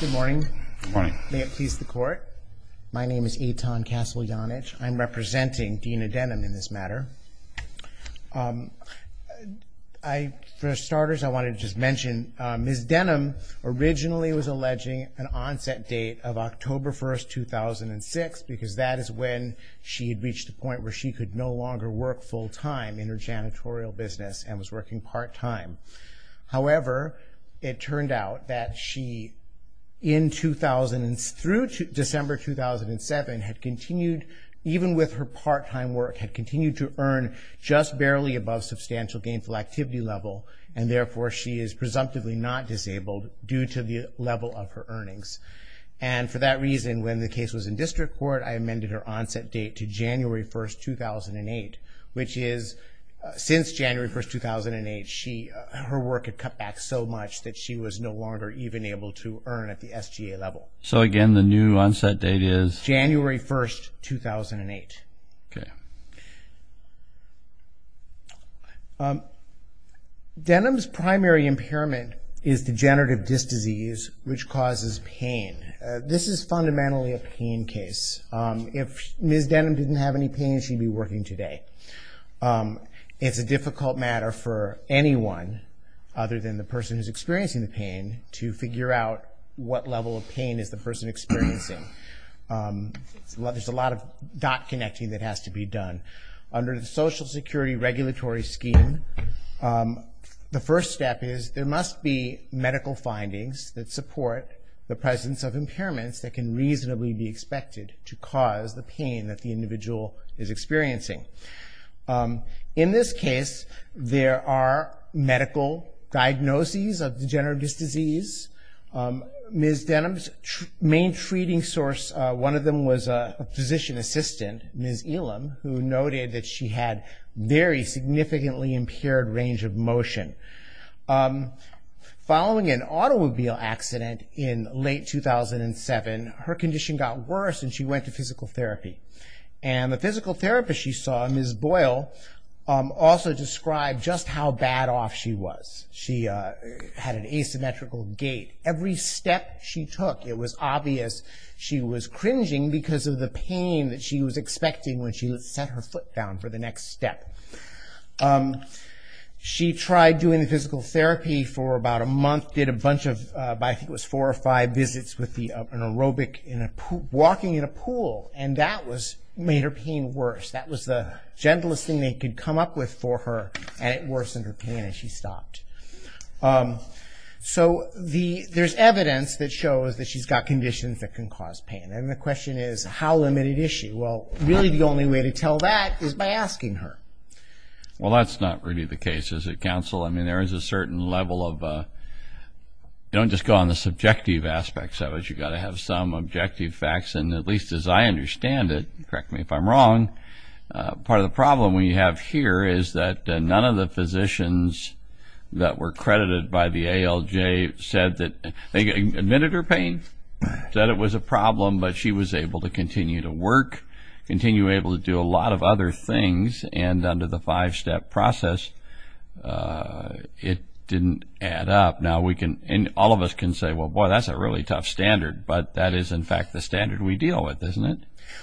Good morning. May it please the court. My name is Eitan Castle-Janich. I'm representing Deana Denham in this matter. For starters, I wanted to just mention Ms. Denham originally was alleging an onset date of October 1, 2006 because that is when she had reached the point where she could no longer work full time in her janitorial business and was working part time. However, it turned out that she in 2000 through December 2007 had continued even with her part time work had continued to earn just barely above substantial gainful activity level and therefore she is presumptively not disabled due to the level of her earnings. And for that reason, when the case was in district court, I amended her onset date to January 1, 2008. Her work had cut back so much that she was no longer even able to earn at the SGA level. Robert Chisholm So again, the new onset date is? Eitan Castle-Janich January 1, 2008. Denham's primary impairment is degenerative disc disease which causes pain. This is fundamentally a pain case. If Ms. Denham didn't have any pain, she'd be working today. It's a difficult matter for anyone other than the person who's experiencing the pain to figure out what level of pain is the person experiencing. There's a lot of dot connecting that has to be done. Under the Social Security Regulatory Scheme, the first step is there must be medical findings that support the presence of impairments that can reasonably be expected to cause the pain that the individual is experiencing. In this case, there are medical diagnoses of degenerative disc disease. Ms. Denham's main treating source, one of them was a physician assistant, Ms. Elam, who noted that she had very significantly impaired range of motion. Following an auto accident in late 2007, her condition got worse and she went to physical therapy. The physical therapist she saw, Ms. Boyle, also described just how bad off she was. She had an asymmetrical gait. Every step she took, it was obvious she was cringing because of the pain that she was expecting when she set her foot down for the next step. She tried doing the physical therapy for about a month, did a bunch of, I think it was four or five visits with an aerobic, walking in a pool, and that made her pain worse. That was the gentlest thing they could come up with for her and it worsened her pain and she stopped. There's evidence that shows that she's got conditions that can cause pain. The question is, how limited is she? Really, the only way to tell that is by asking her. Well, that's not really the case, is it, counsel? I mean, there is a certain level of, don't just go on the subjective aspects of it. You've got to have some objective facts and at least as I understand it, correct me if I'm wrong, part of the problem we have here is that none of the physicians that were credited by the ALJ said that they admitted her pain, said it was a problem, but she was able to continue to work, continue to be able to do a lot of other things and under the five-step process, it didn't add up. Now, all of us can say, well, boy, that's a really tough standard, but that is in fact the standard we deal with, isn't it?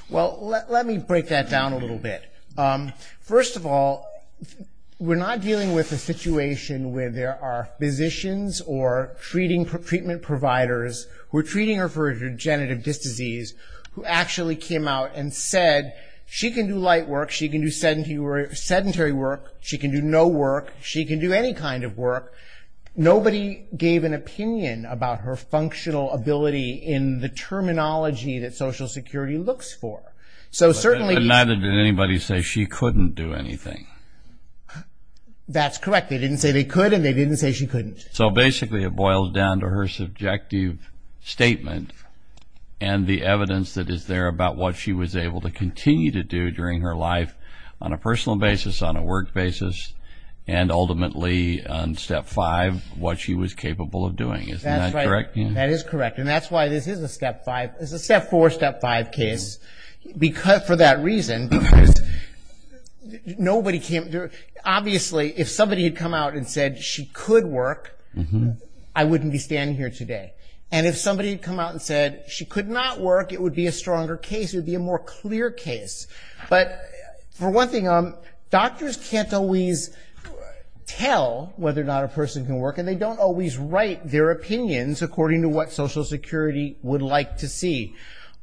Well, let me break that down a little bit. First of all, we're not dealing with a situation where there are physicians or treatment providers who are treating her for her degenerative disc disease who actually came out and said she can do light work, she can do sedentary work, she can do no work, she can do any kind of work. Nobody gave an opinion about her functional ability in the terminology that Social Security looks for. So, certainly... And neither did anybody say she couldn't do anything. That's correct. They didn't say they could and they didn't say she couldn't. So basically, it boils down to her subjective statement and the evidence that is there about what she was able to continue to do during her life on a personal basis, on a work basis, and ultimately on step five, what she was capable of doing. Isn't that correct? That is correct. And that's why this is a step four, step five case. For that reason, because nobody came... Obviously, if somebody had come out and said she could work, I wouldn't be standing here today. And if somebody had come out and said she could not work, it would be a stronger case, it would be a more clear case. But for one thing, doctors can't always tell whether or not a person can work and they don't always write their opinions according to what Social Security would like to see.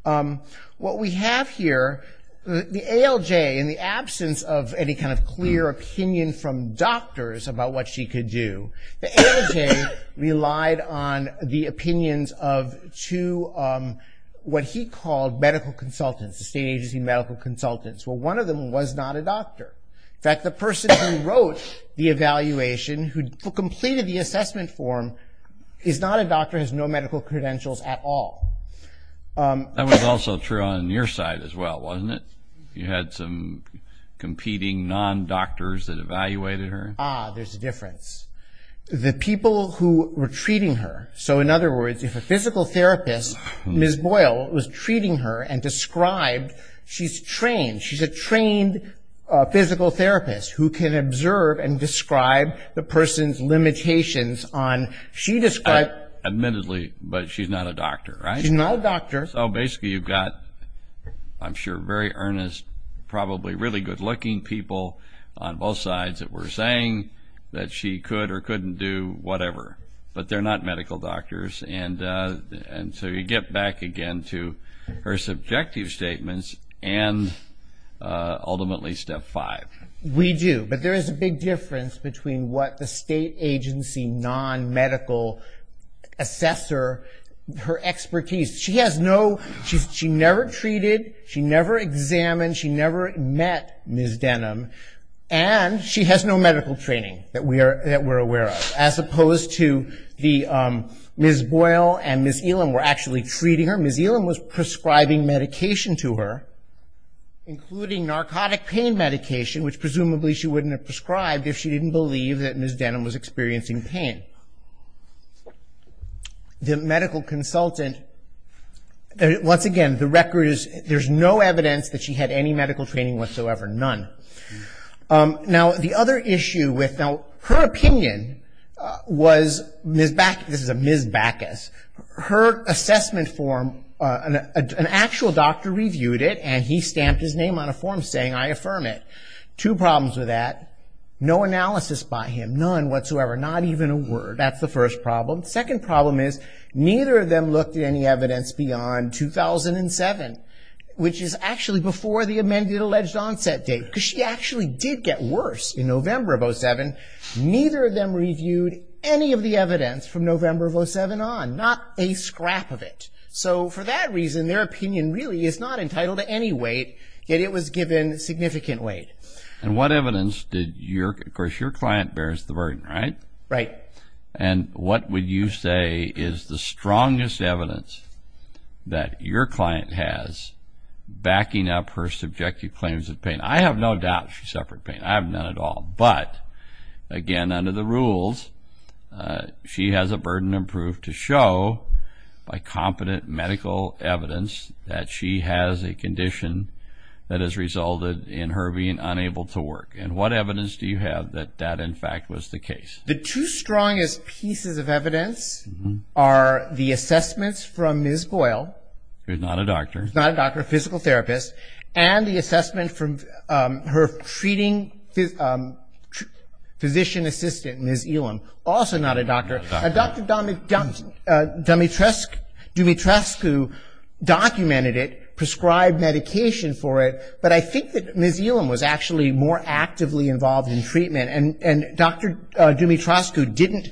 What we have here, the ALJ, in the absence of any kind of clear opinion from doctors about what she could do, the ALJ relied on the opinions of two, what he called medical consultants, the state agency medical consultants. Well, one of them was not a doctor. In fact, the person who wrote the evaluation, who completed the assessment form, is not a doctor, has no medical credentials at all. That was also true on your side as well, wasn't it? You had some competing non-doctors that evaluated her. Ah, there's a difference. The people who were treating her, so in other words, if a physical therapist, Ms. Boyle, was treating her and described she's trained, she's a trained physical therapist who can observe and describe the person's limitations on... Admittedly, but she's not a doctor, right? She's not a doctor. So basically, you've got, I'm sure, very earnest, probably really good looking people on both sides that were saying that she could or couldn't do whatever, but they're not medical doctors. And so you get back again to her subjective statements and ultimately step five. We do, but there is a big difference between what the state agency non-medical assessor, her expertise. She never treated, she never examined, she never met Ms. Denham, and she has no medical training that we're aware of, as opposed to Ms. Boyle and Ms. Elam were actually treating her. Ms. Elam was prescribing medication to her, including narcotic pain medication, which presumably she wouldn't have prescribed if she didn't believe that Ms. Denham was experiencing pain. The medical consultant, once again, the record is there's no evidence that she had any medical training whatsoever, none. Now, the other issue with... Now, her opinion was Ms. Bacchus, this is a Ms. Bacchus, her assessment form, an actual doctor reviewed it and he stamped his name on a form saying, I affirm it. Two problems with that, no analysis by him, none whatsoever, not even a word. That's the first problem. Second problem is, neither of them looked at any evidence beyond 2007, which is actually before the amended alleged onset date, because she actually did get worse in November of 07. Neither of them reviewed any of the evidence from November of 07 on, not a scrap of it. For that reason, their opinion really is not entitled to any weight, yet it was given significant weight. What evidence did your... Of course, your client bears the burden, right? Right. What would you say is the strongest evidence that your client has backing up her subjective claims of pain? I have no doubt she suffered pain, I have none at all, but again, under the rules, she has a burden of proof to show by competent medical evidence that she has a condition that has resulted in her being unable to work. What evidence do you have that that, in fact, was the case? The two strongest pieces of evidence are the assessments from Ms. Boyle... Who's not a doctor. Who's not a doctor, a physical therapist, and the assessment from her treating physician assistant, Ms. Elam, also not a doctor. Dr. Dumitrescu documented it, prescribed medication for it, but I think that Ms. Elam was actually more actively involved in treatment, and Dr. Dumitrescu didn't...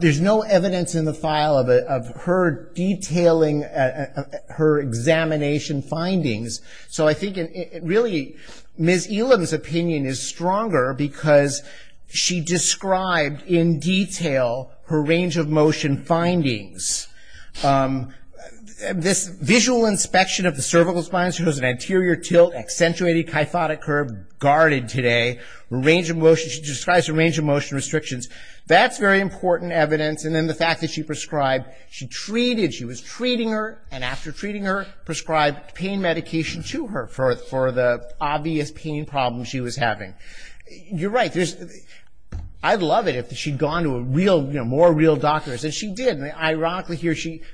There's no evidence in the file of her detailing her examination findings, so I think, really, Ms. Elam's opinion is stronger because she described in detail her range of motion findings. This visual inspection of the cervical spine, she has an anterior tilt, accentuated kyphotic curve, guarded today, range of motion, she describes her range of motion restrictions. That's very important evidence, and then the fact that she prescribed, she treated, she was treating her, and after treating her, prescribed pain medication to her for the obvious pain problem she was having. You're right. I'd love it if she'd gone to a real, more real doctor, and she did. Ironically,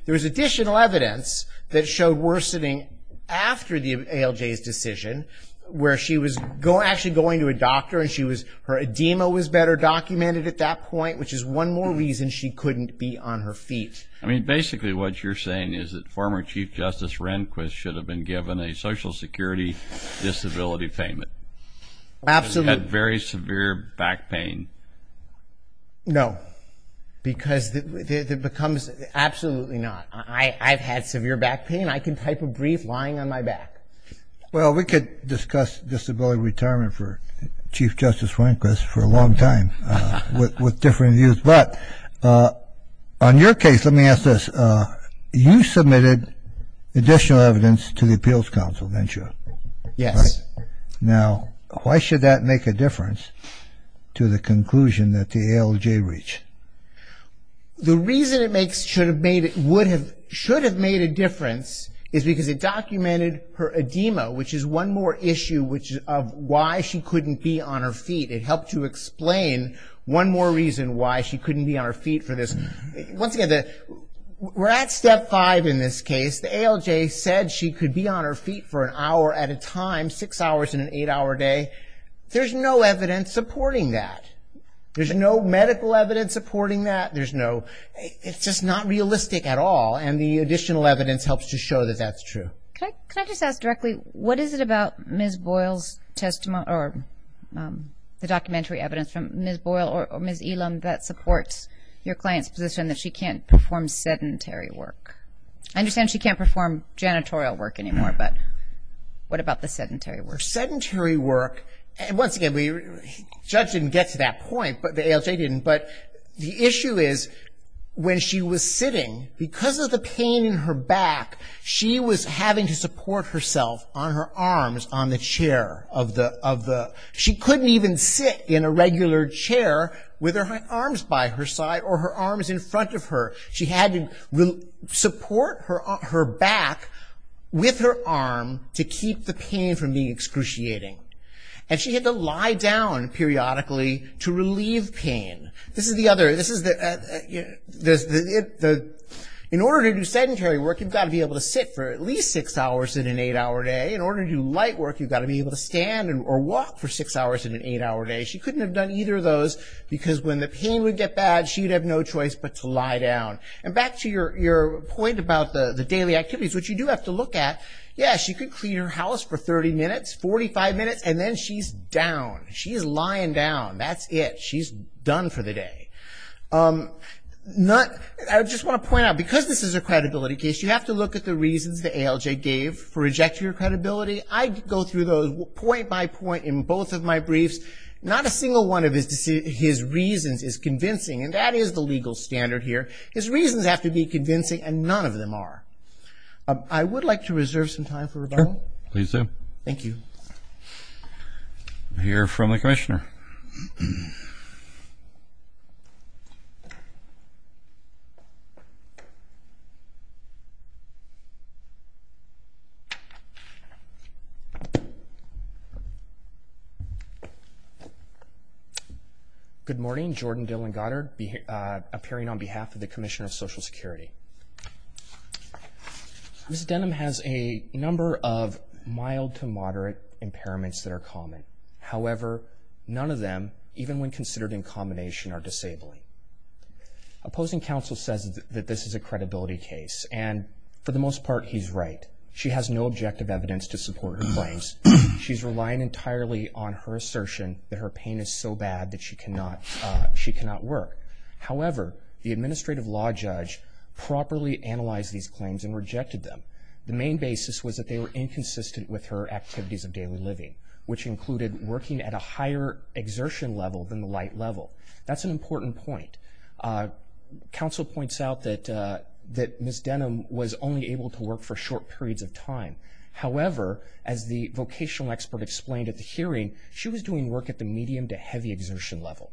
there was additional evidence that showed worsening after the ALJ's decision, where she was actually going to a doctor, and her edema was better documented at that point, which is one more reason she couldn't be on her feet. I mean, basically, what you're saying is that former Chief Justice Rehnquist should have been given a Social Security disability payment. Absolutely. Because he had very severe back pain. No, because it becomes... Absolutely not. I've had severe back pain. I can type a brief lying on my back. Well, we could discuss disability retirement for Chief Justice Rehnquist for a long time with different views, but on your case, let me ask this. You submitted additional evidence to the Appeals Council, didn't you? Yes. Now, why should that make a difference to the conclusion that the ALJ reached? The reason it should have made a difference is because it documented her edema, which is one more issue of why she couldn't be on her feet. It helped to explain one more reason why she couldn't be on her feet for this. Once again, we're at step five in this case. The ALJ said she could be on her feet for an hour at a time, six hours in an eight-hour day. There's no evidence supporting that. There's no medical evidence supporting that. It's just not realistic at all, and the additional evidence helps to show that that's true. Can I just ask directly, what is it about Ms. Boyle's testimony or the documentary evidence from Ms. Boyle or Ms. Elam that supports your client's position that she can't perform sedentary work? I understand she can't perform janitorial work anymore, but what about the sedentary work? Sedentary work, and once again, the judge didn't get to that point, but the ALJ didn't, but the issue is when she was sitting, because of the pain in her back, she was having to support herself on her arms on the chair. She couldn't even sit in a regular chair with her arms by her side or her arms in front of her. She had to support her back with her arm to keep the pain from being excruciating, and she had to lie down periodically to relieve pain. In order to do sedentary work, you've got to be able to sit for at least six hours in an eight-hour day. In order to do light work, you've got to be able to stand or walk for six hours in an eight-hour day. She couldn't have done either of those, because when the pain would get bad, she'd have no choice but to lie down. Back to your point about the daily activities, which you do have to look at, yes, she could clean her house for 30 minutes, 45 minutes, and then she's down. She's lying down. That's it. She's done for the day. I just want to point out, because this is a credibility case, you have to look at the reasons the ALJ gave for rejecting her credibility. I go through those point by point in both of my briefs. Not a single one of his reasons is convincing, and that is the legal standard here. His reasons have to be convincing, and none of them are. I would like to reserve some time for rebuttal. Please do. Thank you. We'll hear from the Commissioner. Good morning. Jordan Dillon Goddard, appearing on behalf of the Commissioner of Social Security. Ms. Denham has a number of mild to moderate impairments that are common. However, none of them, even when considered in combination, are disabling. Opposing counsel says that this is a credibility case, and for the most part, he's right. She has no objective evidence to support her claims. She's relying entirely on her assertion that her pain is so bad that she cannot work. However, the administrative law judge properly analyzed these claims and rejected them. The main basis was that they were inconsistent with her activities of daily living, which included working at a higher exertion level than the light level. That's an important point. Counsel points out that Ms. Denham was only able to work for short periods of time. However, as the vocational expert explained at the hearing, she was doing work at the medium to heavy exertion level.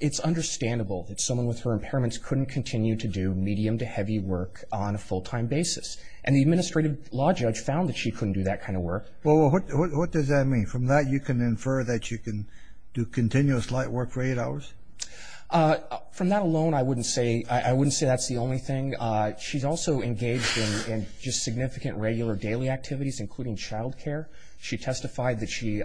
It's understandable that someone with her impairments couldn't continue to do medium to heavy work on a full-time basis, and the administrative law judge found that she couldn't do that kind of work. Well, what does that mean? From that, you can infer that you can do continuous light work for eight hours? From that alone, I wouldn't say that's the only thing. She's also engaged in just significant regular daily activities, including child care. She testified that she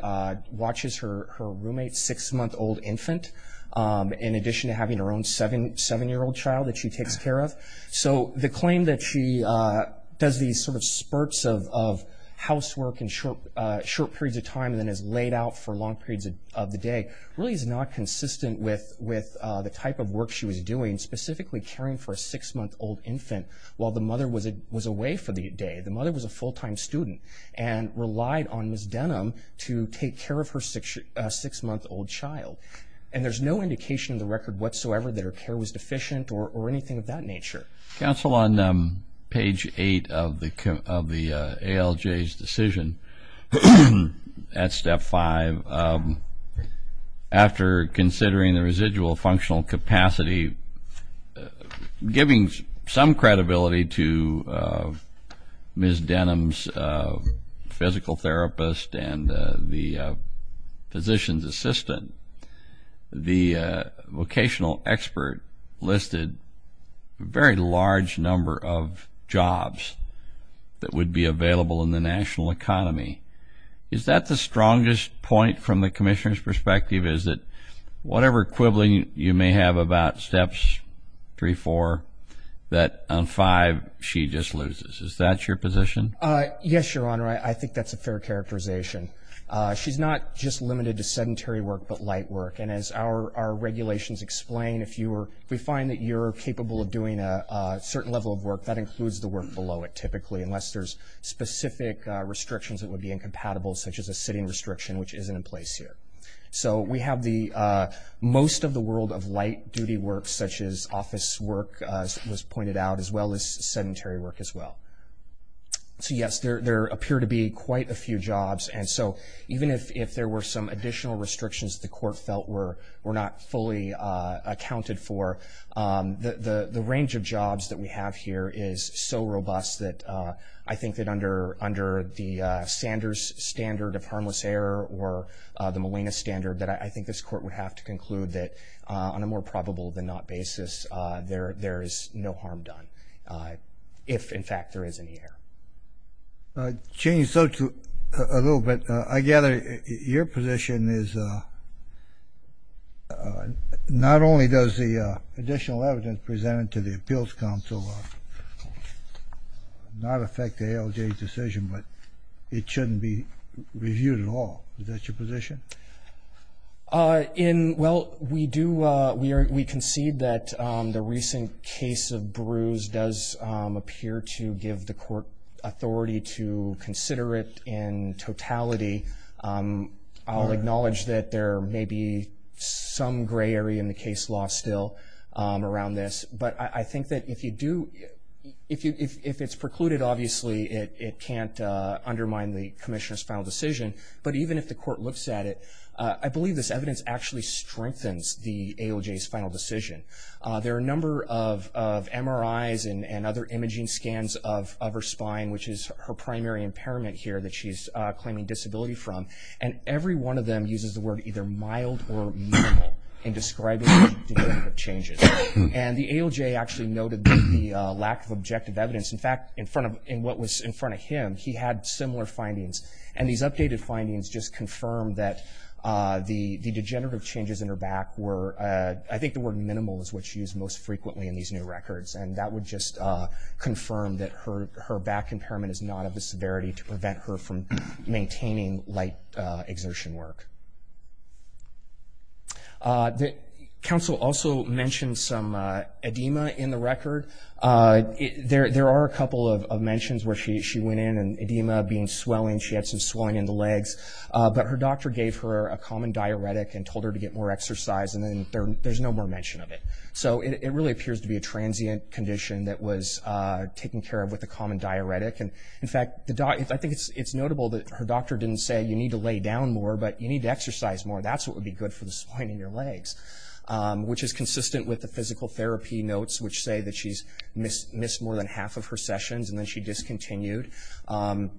watches her roommate's six-month-old infant, in addition to having her own seven-year-old child that she takes care of. The claim that she does these spurts of housework in short periods of time and then is laid out for long periods of the day really is not consistent with the type of work she was doing, specifically caring for a six-month-old infant while the mother was away for the day. The mother was a full-time student and relied on Ms. Denham to take care of her six-month-old child. And there's no indication in the record whatsoever that her care was deficient or anything of that nature. Counsel, on page eight of the ALJ's decision at step five, after considering the residual functional capacity, giving some credibility to Ms. Denham's physical therapist and the physician's assistant, the vocational expert listed a very large number of jobs that would be available in the national economy. Is that the strongest point from the commissioner's view? Whatever quibbling you may have about steps three, four, that on five she just loses. Is that your position? Yes, Your Honor. I think that's a fair characterization. She's not just limited to sedentary work but light work. And as our regulations explain, if we find that you're capable of doing a certain level of work, that includes the work below it, typically, unless there's specific restrictions that would be incompatible, such as a sitting restriction, which isn't in place here. So we have most of the world of light duty work, such as office work, as was pointed out, as well as sedentary work as well. So yes, there appear to be quite a few jobs. And so even if there were some additional restrictions the court felt were not fully accounted for, the range of jobs that we have here is so robust that I think that under the Sanders standard of harmless error or the Molina standard, that I think this court would have to conclude that on a more probable than not basis, there is no harm done. If, in fact, there is any error. Changing the subject a little bit, I gather your position is not only does the additional evidence presented to the Appeals Council not affect the ALJ decision, but it shouldn't be reviewed at all. Is that your position? Well, we concede that the recent case of Bruce does appear to give the court authority to consider it in totality. I'll acknowledge that there may be some gray area in the case law still around this. But I think that if it's precluded, obviously, it can't undermine the Commissioner's final decision. But even if the court looks at it, I believe this evidence actually strengthens the ALJ's final decision. There are a number of MRIs and other imaging scans of her spine, which is her primary impairment here that she's claiming disability from. And every one of them uses the word either mild or minimal in describing the degree of changes. And the ALJ actually noted the lack of objective evidence. In fact, in front of him, he had similar findings. And these updated findings just confirmed that the degenerative changes in her back were, I think the word minimal is what she used most frequently in these new records. And that would just confirm that her back impairment is not of the severity to prevent her from maintaining light exertion work. The counsel also mentioned some edema in the record. There are a couple of mentions where she went in, and edema being swelling. She had some swelling in the legs. But her doctor gave her a common diuretic and told her to get more exercise. And then there's no more mention of it. So it really appears to be a transient condition that was taken care of with a common diuretic. And in fact, I think it's notable that her doctor didn't say, you need to lay down more, but you need to exercise more. That's what would be good for the swelling in your legs. Which is consistent with the physical therapy notes, which say that she's missed more than half of her sessions. And then she discontinued,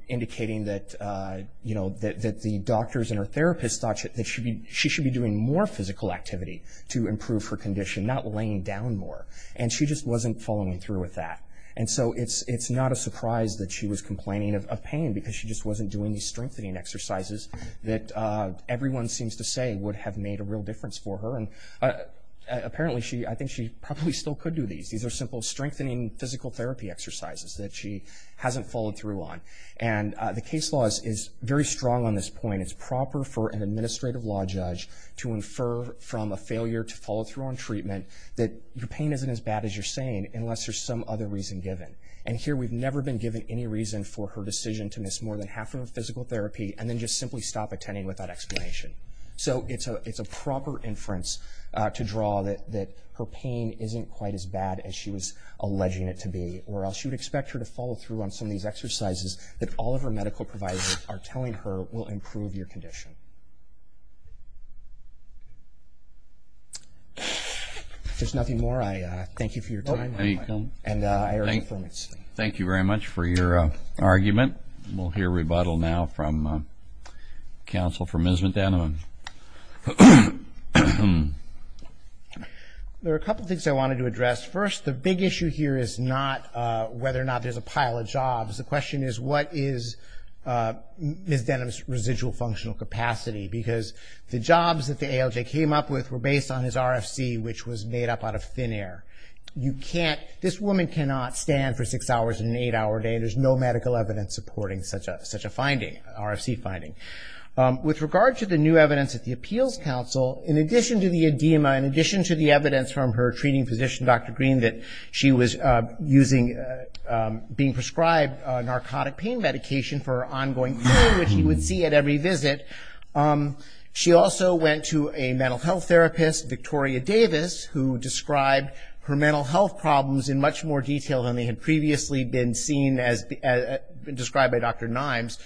indicating that the doctors and her therapist thought that she should be doing more physical activity to improve her condition, not laying down more. And she just wasn't following through with that. And so it's not a surprise that she was complaining of pain, because she just wasn't doing these strengthening exercises that everyone seems to say would have made a real difference for her. Apparently, I think she probably still could do these. These are simple strengthening physical therapy exercises that she hasn't followed through on. And the case law is very strong on this point. It's proper for an administrative law judge to infer from a failure to follow through on treatment, that your pain isn't as bad as you're saying, unless there's some other reason given. And here, we've never been given any reason for her decision to miss more than half of her physical therapy, and then just simply stop attending without explanation. So it's a proper inference to draw that her pain isn't quite as bad as she was alleging it to be. Or else you'd expect her to follow through on some of these exercises that all of her medical providers are telling her will improve your condition. If there's nothing more, I thank you for your time. Thank you very much for your argument. We'll hear rebuttal now from counsel for Ms. Denham. There are a couple of things I wanted to address. First, the big issue here is not whether or not there's a pile of jobs. The question is, what is Ms. Denham's residual functional capacity? Because the jobs that the ALJ came up with were based on his RFC, which was made up out of thin air. This woman cannot stand for six hours in an eight-hour day. There's no medical evidence supporting such a RFC finding. With regard to the new evidence at the Appeals Council, in addition to the edema, in addition to the evidence from her treating physician, Dr. Green, that she was being prescribed narcotic pain medication for her ongoing pain, which you would see at every visit, she also went to a mental health therapist, Victoria Davis, who described her mental health problems in much more detail than they had previously been seen as described by Dr. Nimes,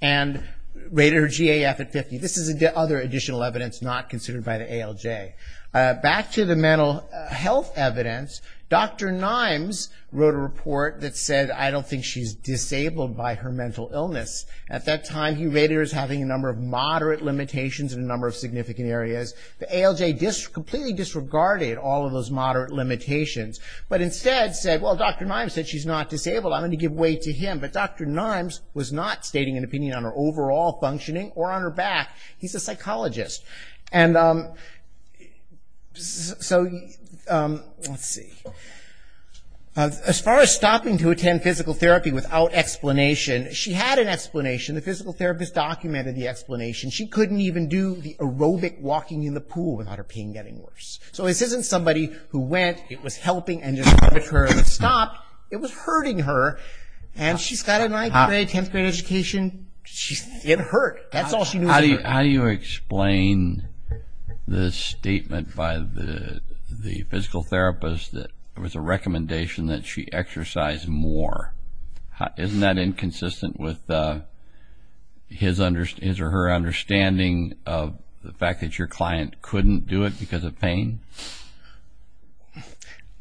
and rated her GAF at 50. This is other additional evidence not considered by the ALJ. Back to the mental health evidence, Dr. Nimes wrote a report that said, I don't think she's disabled by her mental illness. At that time, he rated her as having a number of moderate limitations in a number of significant areas. The ALJ completely disregarded all of those moderate limitations, but instead said, well, Dr. Nimes said she's not disabled. I'm going to give way to him, but Dr. Nimes was not stating an opinion on her overall functioning or on her back. He's a psychologist. As far as stopping to attend physical therapy without explanation, she had an explanation. The physical therapist documented the explanation. She couldn't even do the aerobic walking in the pool without her pain getting worse. So this isn't somebody who went, it was helping, and just arbitrarily stopped. It was hurting her, and she's got a 9th grade, 10th grade education. It hurt. That's all she knew was hurting. How do you explain the statement by the physical therapist that it was a recommendation that his or her understanding of the fact that your client couldn't do it because of pain?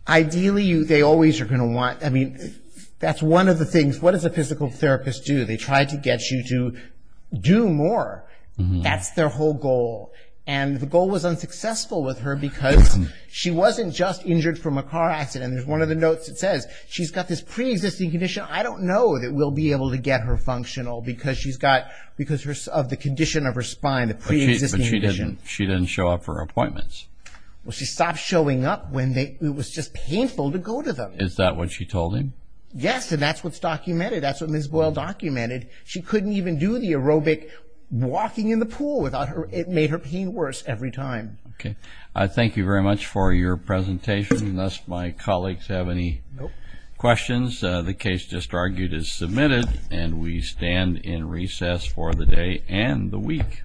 Ideally, they always are going to want, I mean, that's one of the things. What does a physical therapist do? They try to get you to do more. That's their whole goal. The goal was unsuccessful with her because she wasn't just injured from a car accident. There's one of the notes that says, she's got this preexisting condition. I don't know that we'll be able to get her functional because of the condition of her spine, the preexisting condition. She didn't show up for appointments. She stopped showing up when it was just painful to go to them. Is that what she told him? Yes, and that's what's documented. That's what Ms. Boyle documented. She couldn't even do the aerobic walking in the pool without her, it made her pain worse every time. Thank you very much for your presentation. Unless my colleagues have any questions, the case just argued is submitted and we stand in recess for the day and the week.